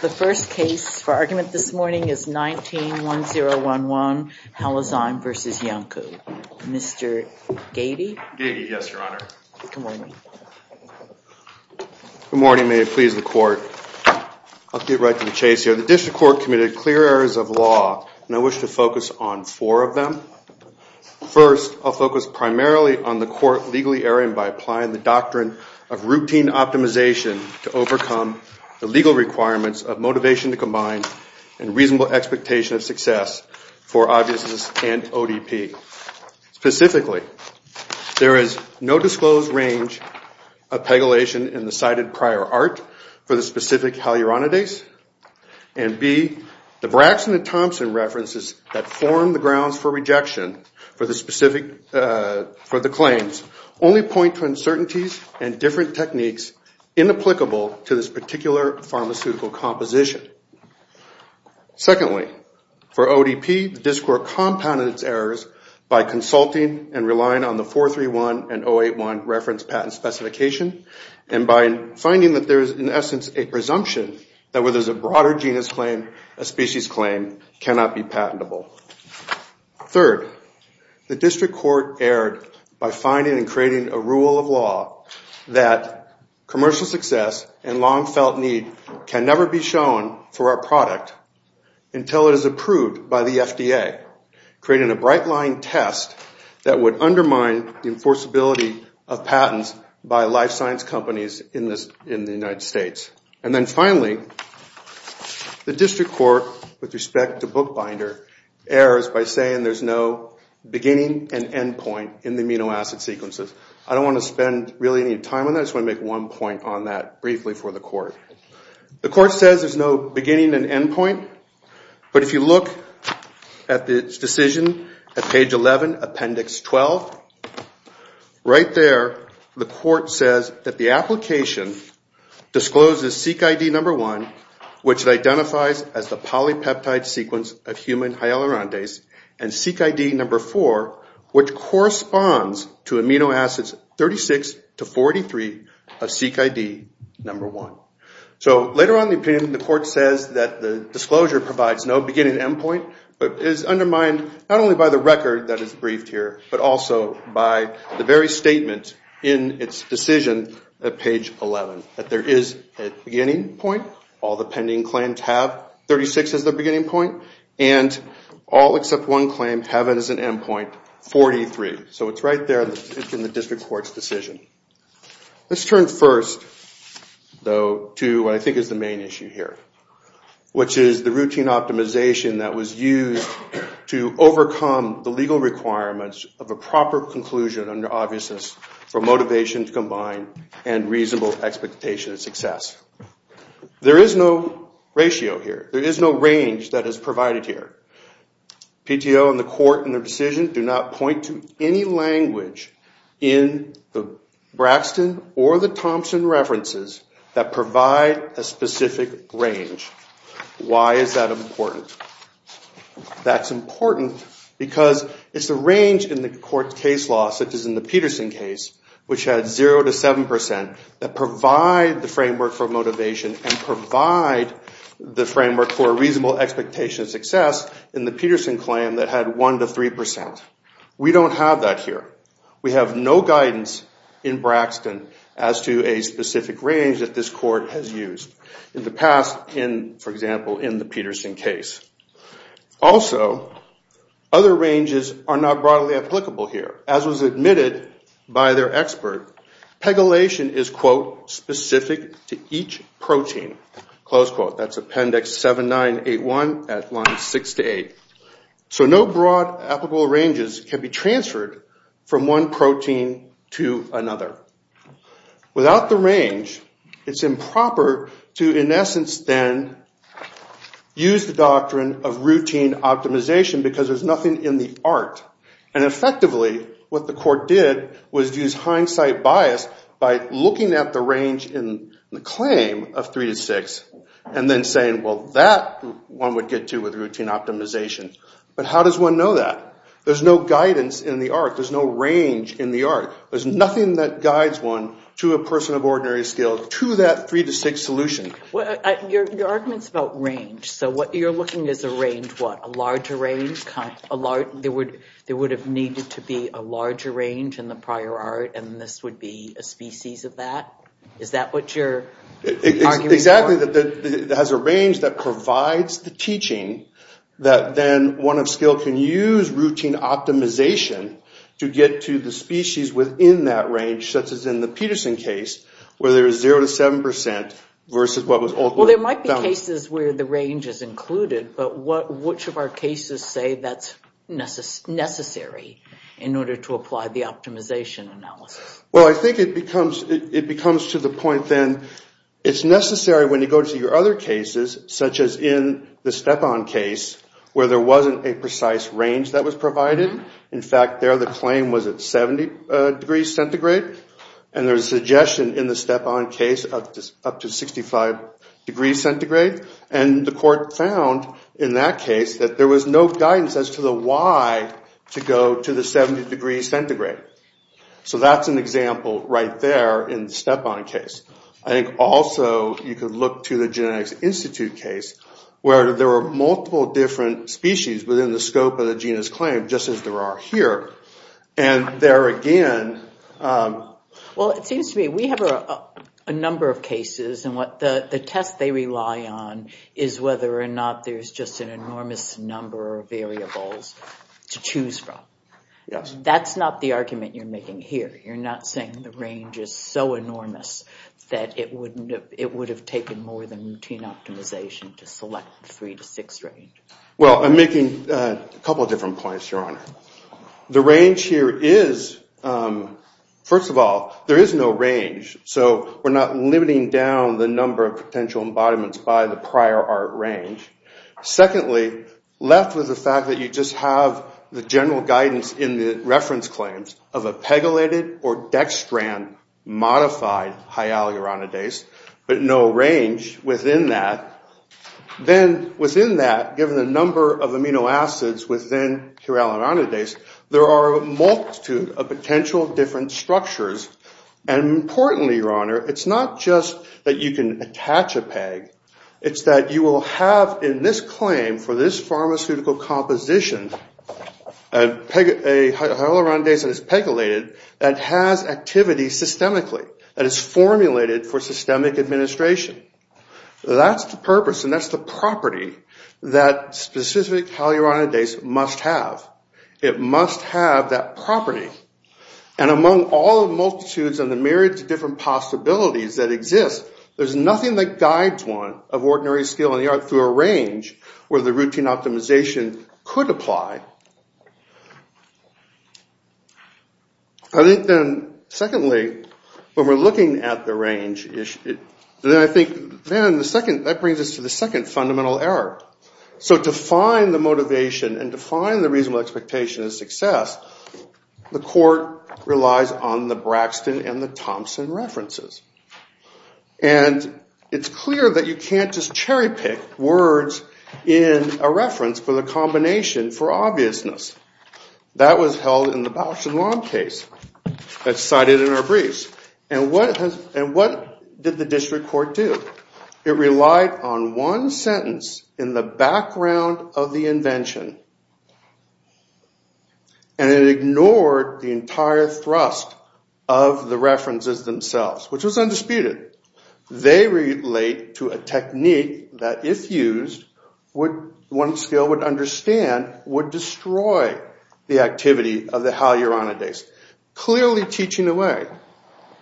The first case for argument this morning is 19-1011 Halzyme v. Iancu. Mr. Gady? Gady, yes, Your Honor. Good morning. Good morning. May it please the Court. I'll get right to the chase here. The District Court committed clear errors of law, and I wish to focus on four of them. First, I'll focus primarily on the court legally erring by applying the doctrine of routine optimization to overcome the legal requirements of motivation to combine and reasonable expectation of success for obviousness and ODP. Specifically, there is no disclosed range of pegylation in the cited prior art for the specific haluronidase. And B, the Braxton and Thompson references that form the grounds for rejection for the claims only point to uncertainties and different techniques inapplicable to this particular pharmaceutical composition. Secondly, for ODP, the District Court compounded its errors by consulting and relying on the 431 and 081 reference patent specification and by finding that there is, in essence, a presumption that whether it's a broader genus claim, a species claim, cannot be patentable. Third, the District Court erred by finding and creating a rule of law that commercial success and long-felt need can never be shown for a product until it is approved by the FDA, creating a bright-line test that would undermine the enforceability of patents by life science companies in the United States. And then finally, the District Court, with respect to Bookbinder, errors by saying there's no beginning and end point in the amino acid sequences. I don't want to spend really any time on that. I just want to make one point on that briefly for the Court. The Court says there's no beginning and end point, but if you look at the decision at page 11, appendix 12, right there the Court says that the application discloses SeqID number 1, which identifies as the polypeptide sequence of human hyaluronidase, and SeqID number 4, which corresponds to amino acids 36 to 43 of SeqID number 1. So later on in the opinion, the Court says that the disclosure provides no beginning and end point, but is undermined not only by the record that is briefed here, but also by the very statement in its decision at page 11, that there is a beginning point. All the pending claims have 36 as their beginning point, and all except one claim have it as an end point, 43. So it's right there in the District Court's decision. Let's turn first, though, to what I think is the main issue here, which is the routine optimization that was used to overcome the legal requirements of a proper conclusion under obviousness for motivation to combine and reasonable expectation of success. There is no ratio here. There is no range that is provided here. PTO and the Court in their decision do not point to any language in the Braxton or the Thompson references that provide a specific range. Why is that important? That's important because it's the range in the Court's case law, such as in the Peterson case, which had 0 to 7 percent, that provide the framework for motivation and provide the framework for reasonable expectation of success in the Peterson claim that had 1 to 3 percent. We don't have that here. We have no guidance in Braxton as to a specific range that this Court has used. In the past, for example, in the Peterson case. Also, other ranges are not broadly applicable here. As was admitted by their expert, pegylation is, quote, specific to each protein, close quote. That's Appendix 7981 at line 6 to 8. So no broad applicable ranges can be transferred from one protein to another. Without the range, it's improper to, in essence, then use the doctrine of routine optimization because there's nothing in the art. And effectively, what the Court did was use hindsight bias by looking at the range in the claim of 3 to 6 and then saying, well, that one would get to with routine optimization. But how does one know that? There's no guidance in the art. There's no range in the art. There's nothing that guides one to a person of ordinary skill to that 3 to 6 solution. Your argument's about range. So what you're looking is a range, what, a larger range? There would have needed to be a larger range in the prior art and this would be a species of that? Is that what you're arguing for? Exactly. It has a range that provides the teaching that then one of skill can use routine optimization to get to the species within that range, such as in the Peterson case, where there is 0 to 7 percent versus what was ultimately found. Well, there might be cases where the range is included, but which of our cases say that's necessary in order to apply the optimization analysis? Well, I think it becomes to the point then it's necessary when you go to your other cases, such as in the Stepan case, where there wasn't a precise range that was provided. In fact, there the claim was at 70 degrees centigrade and there's a suggestion in the Stepan case up to 65 degrees centigrade. And the court found in that case that there was no guidance as to the why to go to the 70 degrees centigrade. So that's an example right there in the Stepan case. I think also you could look to the Genetics Institute case, where there were multiple different species within the scope of the genus claim, just as there are here. And there again... Well, it seems to me we have a number of cases and the test they rely on is whether or not there's just an enormous number of variables to choose from. Yes. That's not the argument you're making here. You're not saying the range is so enormous that it would have taken more than routine optimization to select the three to six range. Well, I'm making a couple of different points, Your Honor. The range here is... First of all, there is no range, so we're not limiting down the number of potential embodiments by the prior art range. Secondly, left with the fact that you just have the general guidance in the reference claims of a pegylated or dextran modified hyaluronidase, but no range within that. Then within that, given the number of amino acids within hyaluronidase, there are a multitude of potential different structures. And importantly, Your Honor, it's not just that you can attach a peg. It's that you will have in this claim for this pharmaceutical composition, a hyaluronidase that is pegylated that has activity systemically, that is formulated for systemic administration. That's the purpose and that's the property that specific hyaluronidase must have. It must have that property. And among all the multitudes and the myriad of different possibilities that exist, there's nothing that guides one of ordinary skill in the art through a range where the routine optimization could apply. I think then, secondly, when we're looking at the range, then I think that brings us to the second fundamental error. So to find the motivation and to find the reasonable expectation of success, the court relies on the Braxton and the Thompson references. And it's clear that you can't just cherry pick words in a reference for the combination for obviousness. That was held in the Bausch and Lomb case that's cited in our briefs. And what did the district court do? It relied on one sentence in the background of the invention and it ignored the entire thrust of the references themselves, which was undisputed. They relate to a technique that if used, one skill would understand, would destroy the activity of the hyaluronidase, clearly teaching away.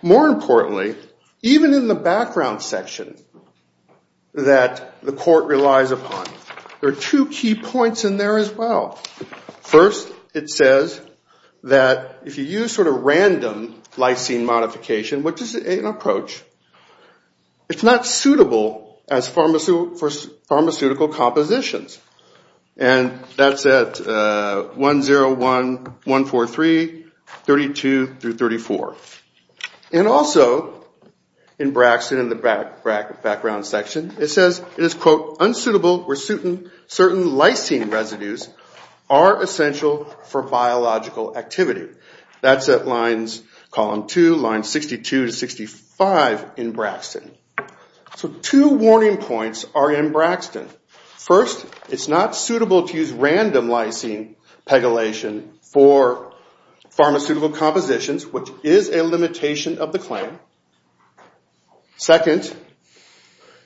More importantly, even in the background section that the court relies upon, there are two key points in there as well. First, it says that if you use sort of random lysine modification, which is an approach, it's not suitable for pharmaceutical compositions. And that's at 101, 143, 32 through 34. And also in Braxton in the background section, it says it is, quote, unsuitable where certain lysine residues are essential for biological activity. That's at lines column two, lines 62 to 65 in Braxton. So two warning points are in Braxton. First, it's not suitable to use random lysine pegylation for pharmaceutical compositions, which is a limitation of the claim. Second,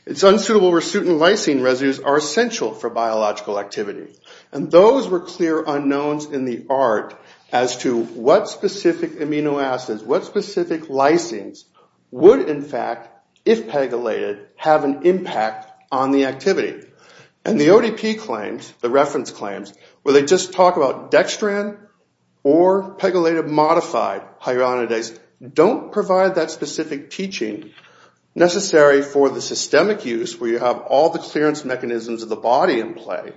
it's unsuitable where certain lysine residues are essential for biological activity. And those were clear unknowns in the art as to what specific amino acids, what specific lysines would in fact, if pegylated, have an impact on the activity. And the ODP claims, the reference claims, where they just talk about dextran or pegylated modified hyaluronidase, don't provide that specific teaching necessary for the systemic use where you have all the clearance mechanisms of the body in play.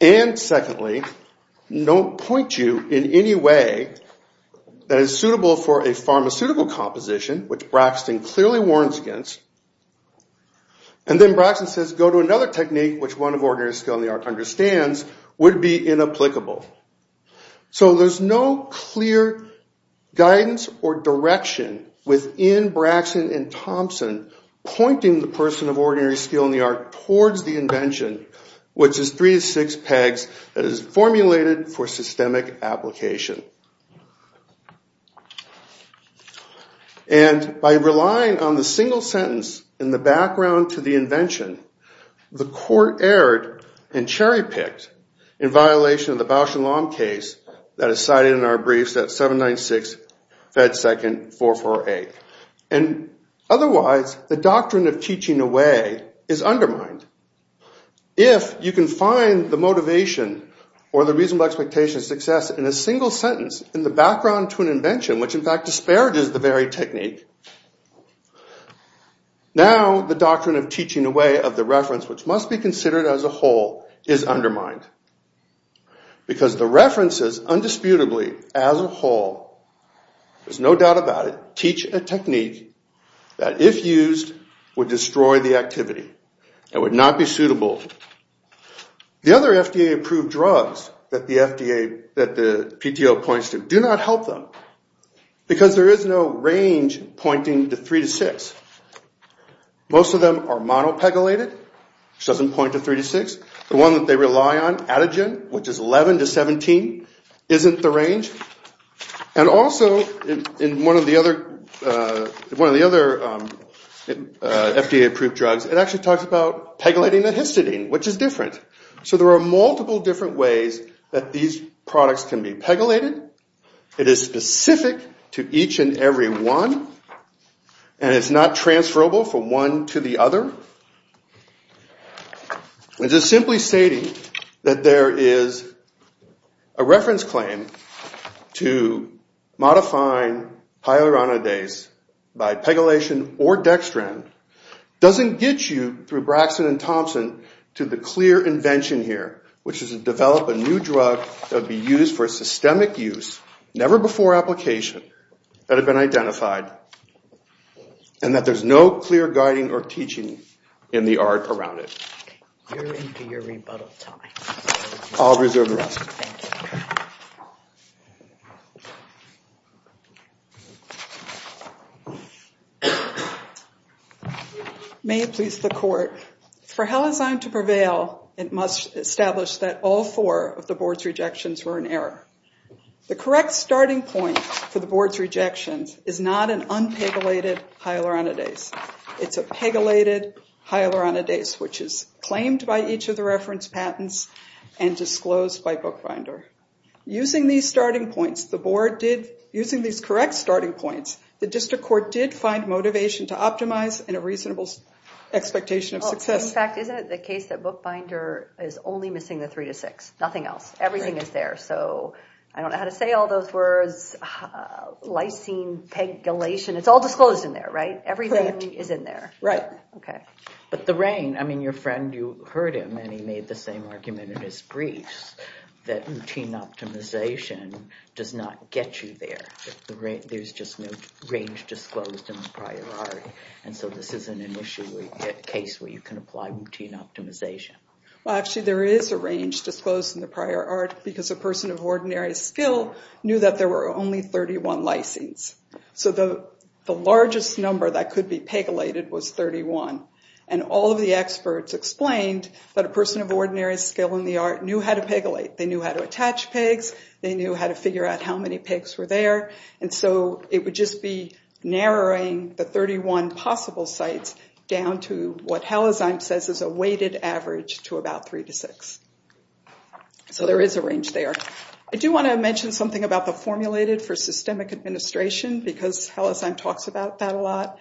And secondly, don't point you in any way that is suitable for a pharmaceutical composition, which Braxton clearly warns against. And then Braxton says, go to another technique, which one of ordinary skill in the art understands, would be inapplicable. So there's no clear guidance or direction within Braxton and Thompson pointing the person of ordinary skill in the art towards the invention, which is three to six pegs that is formulated for systemic application. And by relying on the single sentence in the background to the invention, the court erred and cherry-picked in violation of the Bausch and Lomb case that is cited in our briefs at 796 Fed 2nd 448. And otherwise, the doctrine of teaching away is undermined. If you can find the motivation or the reasonable expectation of success in a single sentence in the background to an invention, which in fact disparages the very technique, now the doctrine of teaching away of the reference, which must be considered as a whole, is undermined. Because the references, undisputably, as a whole, there's no doubt about it, teach a technique that if used would destroy the activity. It would not be suitable. The other FDA-approved drugs that the PTO points to do not help them because there is no range pointing to three to six. Most of them are monopegylated, which doesn't point to three to six. The one that they rely on, Atigen, which is 11 to 17, isn't the range. And also, in one of the other FDA-approved drugs, it actually talks about pegylating the histidine, which is different. So there are multiple different ways that these products can be pegylated. It is specific to each and every one, and it's not transferable from one to the other. And just simply stating that there is a reference claim to modifying pyloronidase by pegylation or dextran doesn't get you, through Braxton and Thompson, to the clear invention here, which is to develop a new drug that would be used for systemic use, never before application, that had been identified, and that there's no clear guiding or teaching in the art around it. You're into your rebuttal time. I'll reserve the rest. Thank you. May it please the court, for Halazine to prevail, it must establish that all four of the board's rejections were in error. The correct starting point for the board's rejections is not an unpegylated pyloronidase. It's a pegylated pyloronidase, which is claimed by each of the reference patents and disclosed by Bookbinder. Using these starting points, the board did, using these correct starting points, the district court did find motivation to optimize in a reasonable expectation of success. In fact, isn't it the case that Bookbinder is only missing the three to six? Nothing else. Everything is there, so I don't know how to say all those words. Lysine, pegylation, it's all disclosed in there, right? Everything is in there. Right. Okay. But the rain, I mean, your friend, you heard him, and he made the same argument in his briefs, that routine optimization does not get you there. There's just no range disclosed in the prior art, and so this isn't initially a case where you can apply routine optimization. Well, actually, there is a range disclosed in the prior art, because a person of ordinary skill knew that there were only 31 lysines. So the largest number that could be pegylated was 31, and all of the experts explained that a person of ordinary skill in the art knew how to pegylate. They knew how to attach pegs. They knew how to figure out how many pegs were there, and so it would just be narrowing the 31 possible sites down to what Halizine says is a weighted average to about 3 to 6. So there is a range there. I do want to mention something about the formulated for systemic administration, because Halizine talks about that a lot.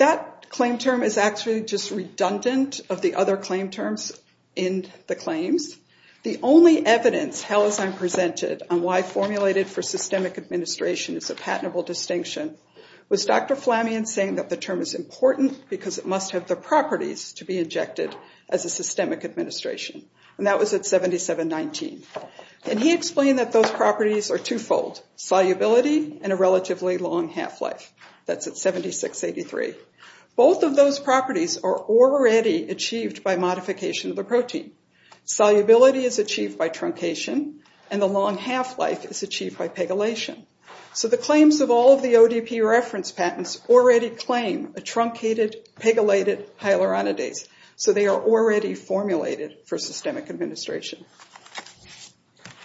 That claim term is actually just redundant of the other claim terms in the claims. The only evidence Halizine presented on why formulated for systemic administration is a patentable distinction was Dr. Flammion saying that the term is important because it must have the properties to be injected as a systemic administration, and that was at 7719. And he explained that those properties are twofold, solubility and a relatively long half-life. That's at 7683. Both of those properties are already achieved by modification of the protein. Solubility is achieved by truncation, and the long half-life is achieved by pegylation. So the claims of all of the ODP reference patents already claim a truncated, pegylated hyaluronidase, so they are already formulated for systemic administration.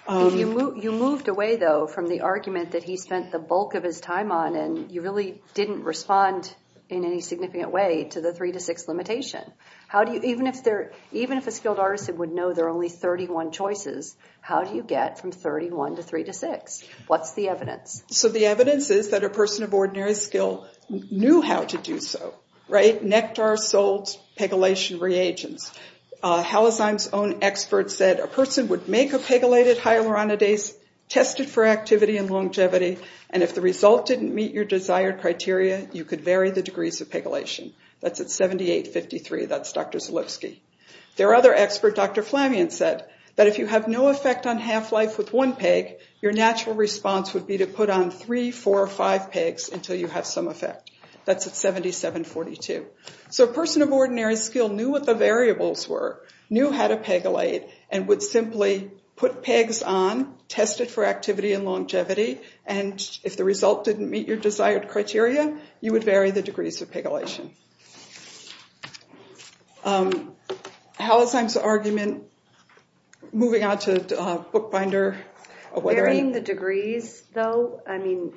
You moved away, though, from the argument that he spent the bulk of his time on, and you really didn't respond in any significant way to the 3 to 6 limitation. Even if a skilled artisan would know there are only 31 choices, how do you get from 31 to 3 to 6? What's the evidence? So the evidence is that a person of ordinary skill knew how to do so, right? Nectar, salts, pegylation reagents. Halazime's own expert said a person would make a pegylated hyaluronidase, test it for activity and longevity, and if the result didn't meet your desired criteria, you could vary the degrees of pegylation. That's at 7853. That's Dr. Zalewski. Their other expert, Dr. Flammion, said that if you have no effect on half-life with one peg, your natural response would be to put on 3, 4, or 5 pegs until you have some effect. That's at 7742. So a person of ordinary skill knew what the variables were, knew how to pegylate, and would simply put pegs on, test it for activity and longevity, and if the result didn't meet your desired criteria, you would vary the degrees of pegylation. Halazime's argument, moving on to Bookbinder. Varying the degrees, though, I mean,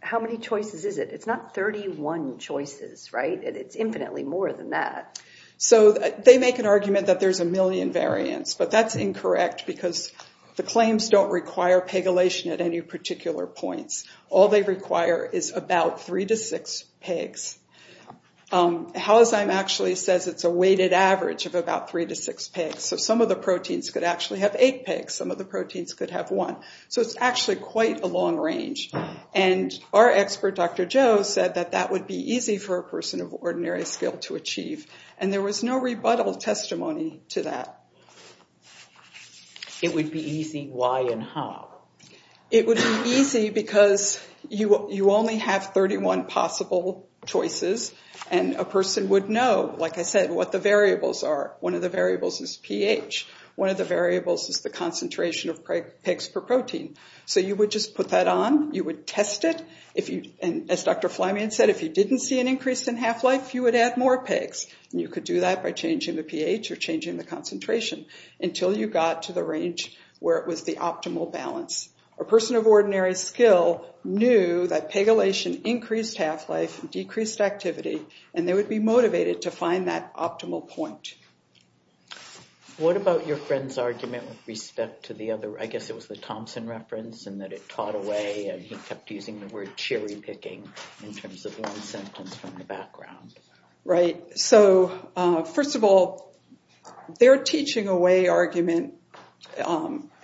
how many choices is it? It's not 31 choices, right? But it's infinitely more than that. So they make an argument that there's a million variants, but that's incorrect because the claims don't require pegylation at any particular points. All they require is about 3 to 6 pegs. Halazime actually says it's a weighted average of about 3 to 6 pegs. So some of the proteins could actually have 8 pegs, some of the proteins could have 1. So it's actually quite a long range. And our expert, Dr. Joe, said that that would be easy for a person of ordinary skill to achieve, and there was no rebuttal testimony to that. It would be easy why and how? It would be easy because you only have 31 possible choices, and a person would know, like I said, what the variables are. One of the variables is pH. One of the variables is the concentration of pegs per protein. So you would just put that on. You would test it. And as Dr. Fleming said, if you didn't see an increase in half-life, you would add more pegs. And you could do that by changing the pH or changing the concentration until you got to the range where it was the optimal balance. A person of ordinary skill knew that pegylation increased half-life, decreased activity, and they would be motivated to find that optimal point. What about your friend's argument with respect to the other – I guess it was the Thompson reference in that it taught away and he kept using the word cherry-picking in terms of one sentence from the background. Right. So, first of all, their teaching away argument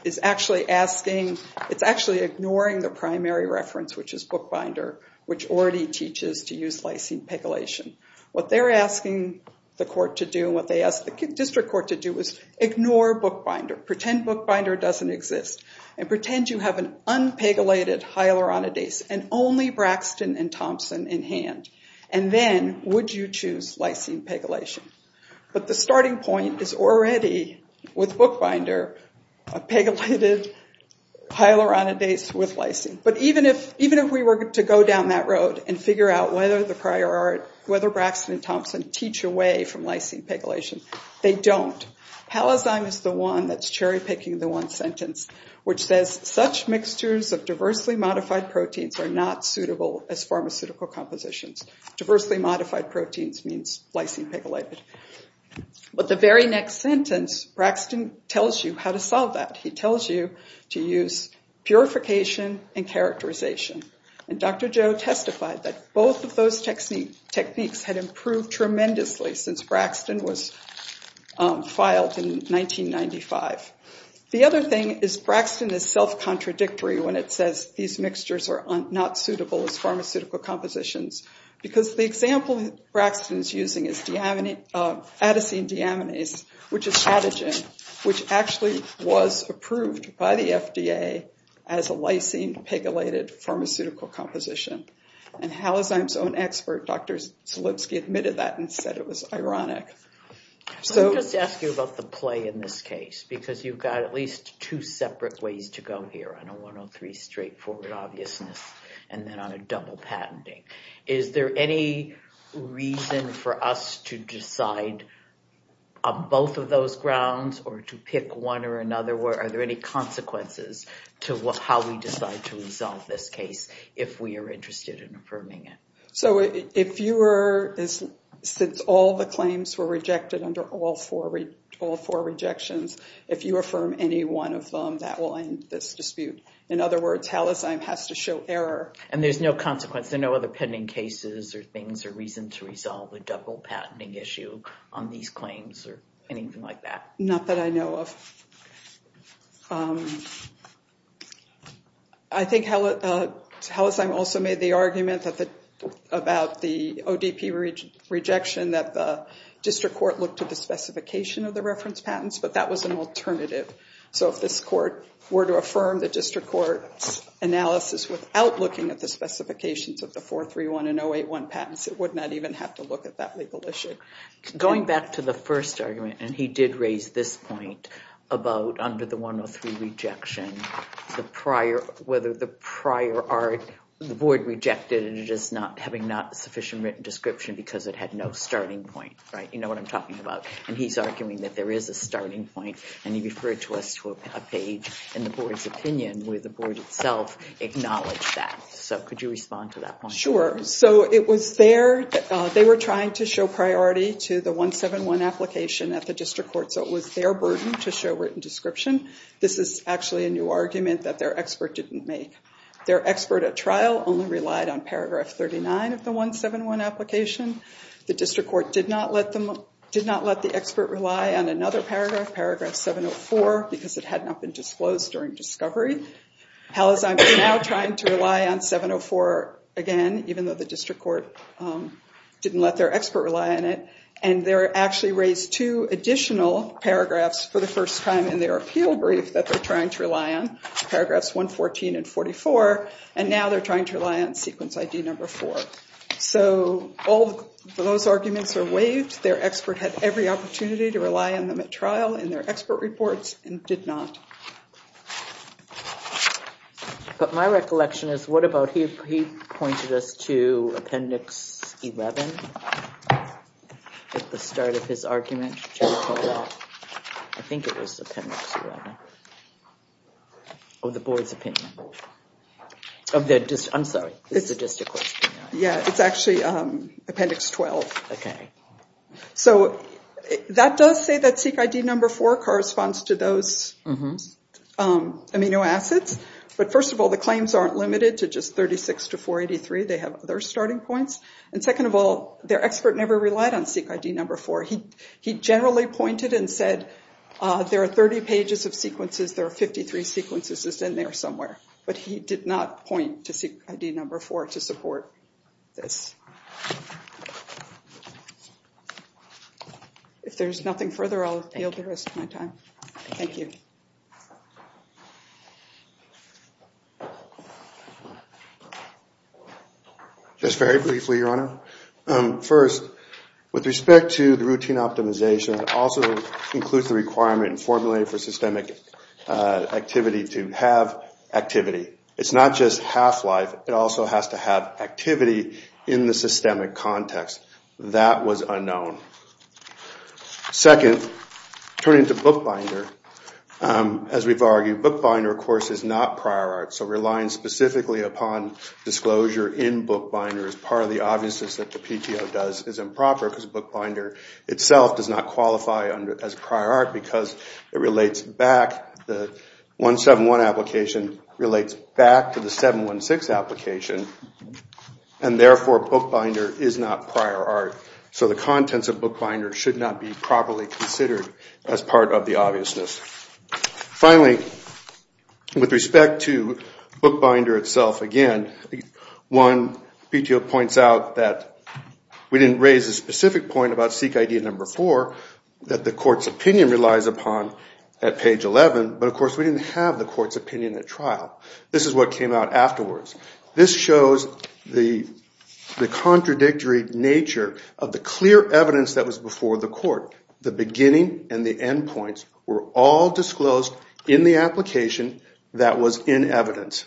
is actually asking – it's actually ignoring the primary reference, which is bookbinder, which already teaches to use lysine pegylation. What they're asking the court to do and what they asked the district court to do was ignore bookbinder, pretend bookbinder doesn't exist, and pretend you have an unpegylated hyaluronidase and only Braxton and Thompson in hand. And then would you choose lysine pegylation? But the starting point is already, with bookbinder, a pegylated hyaluronidase with lysine. But even if we were to go down that road and figure out whether Braxton and Thompson teach away from lysine pegylation, they don't. Palazime is the one that's cherry-picking the one sentence which says, such mixtures of diversely modified proteins are not suitable as pharmaceutical compositions. Diversely modified proteins means lysine pegylated. But the very next sentence, Braxton tells you how to solve that. He tells you to use purification and characterization. And Dr. Joe testified that both of those techniques had improved tremendously since Braxton was filed in 1995. The other thing is Braxton is self-contradictory when it says these mixtures are not suitable as pharmaceutical compositions because the example Braxton is using is adesine deaminase, which is adegine, which actually was approved by the FDA as a lysine pegylated pharmaceutical composition. And Palazime's own expert, Dr. Zalipsky, admitted that and said it was ironic. Let me just ask you about the play in this case because you've got at least two separate ways to go here, on a 103 straightforward obviousness and then on a double patenting. Is there any reason for us to decide on both of those grounds or to pick one or another? Are there any consequences to how we decide to resolve this case if we are interested in affirming it? So if you were, since all the claims were rejected under all four rejections, if you affirm any one of them, that will end this dispute. In other words, Palazime has to show error. And there's no consequence, no other pending cases or things or reason to resolve a double patenting issue on these claims or anything like that? Not that I know of. I think Palazime also made the argument about the ODP rejection that the district court looked at the specification of the reference patents, but that was an alternative. So if this court were to affirm the district court's analysis without looking at the specifications of the 431 and 081 patents, it would not even have to look at that legal issue. Going back to the first argument, and he did raise this point about under the 103 rejection, the prior, whether the prior art, the board rejected it as not having not sufficient written description because it had no starting point. Right. You know what I'm talking about. And he's arguing that there is a starting point. And he referred to us to a page in the board's opinion where the board itself acknowledged that. So could you respond to that? Sure. So it was there. They were trying to show priority to the 171 application at the district court. So it was their burden to show written description. This is actually a new argument that their expert didn't make. Their expert at trial only relied on paragraph 39 of the 171 application. The district court did not let them, did not let the expert rely on another paragraph, paragraph 704, because it had not been disclosed during discovery. Hal is now trying to rely on 704 again, even though the district court didn't let their expert rely on it. And they're actually raised two additional paragraphs for the first time in their appeal brief that they're trying to rely on, paragraphs 114 and 44. And now they're trying to rely on sequence ID number four. So all those arguments are waived. Their expert had every opportunity to rely on them at trial in their expert reports and did not. But my recollection is, what about, he pointed us to appendix 11 at the start of his argument. I think it was appendix 11 of the board's opinion. I'm sorry, it's the district court's opinion. Yeah, it's actually appendix 12. So that does say that seek ID number four corresponds to those amino acids. But first of all, the claims aren't limited to just 36 to 483. They have other starting points. And second of all, their expert never relied on seek ID number four. He generally pointed and said there are 30 pages of sequences, there are 53 sequences in there somewhere. But he did not point to seek ID number four to support this. If there's nothing further, I'll yield the rest of my time. Thank you. Just very briefly, Your Honor. First, with respect to the routine optimization, it also includes the requirement formulated for systemic activity to have activity. It's not just half-life. It also has to have activity in the systemic context. That was unknown. Second, turning to bookbinder, as we've argued, bookbinder, of course, is not prior art. So relying specifically upon disclosure in bookbinder is part of the obviousness that the PTO does is improper because bookbinder itself does not qualify as prior art because it relates back. The 171 application relates back to the 716 application, and therefore bookbinder is not prior art. So the contents of bookbinder should not be properly considered as part of the obviousness. Finally, with respect to bookbinder itself again, one PTO points out that we didn't raise a specific point about seek ID number four that the court's opinion relies upon at page 11, but, of course, we didn't have the court's opinion at trial. This is what came out afterwards. This shows the contradictory nature of the clear evidence that was before the court. The beginning and the end points were all disclosed in the application that was in evidence,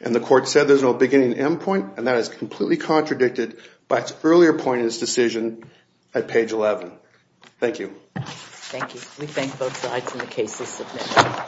and the court said there's no beginning and end point, and that is completely contradicted by its earlier point in its decision at page 11. Thank you. Thank you. We thank both sides in the cases submitted.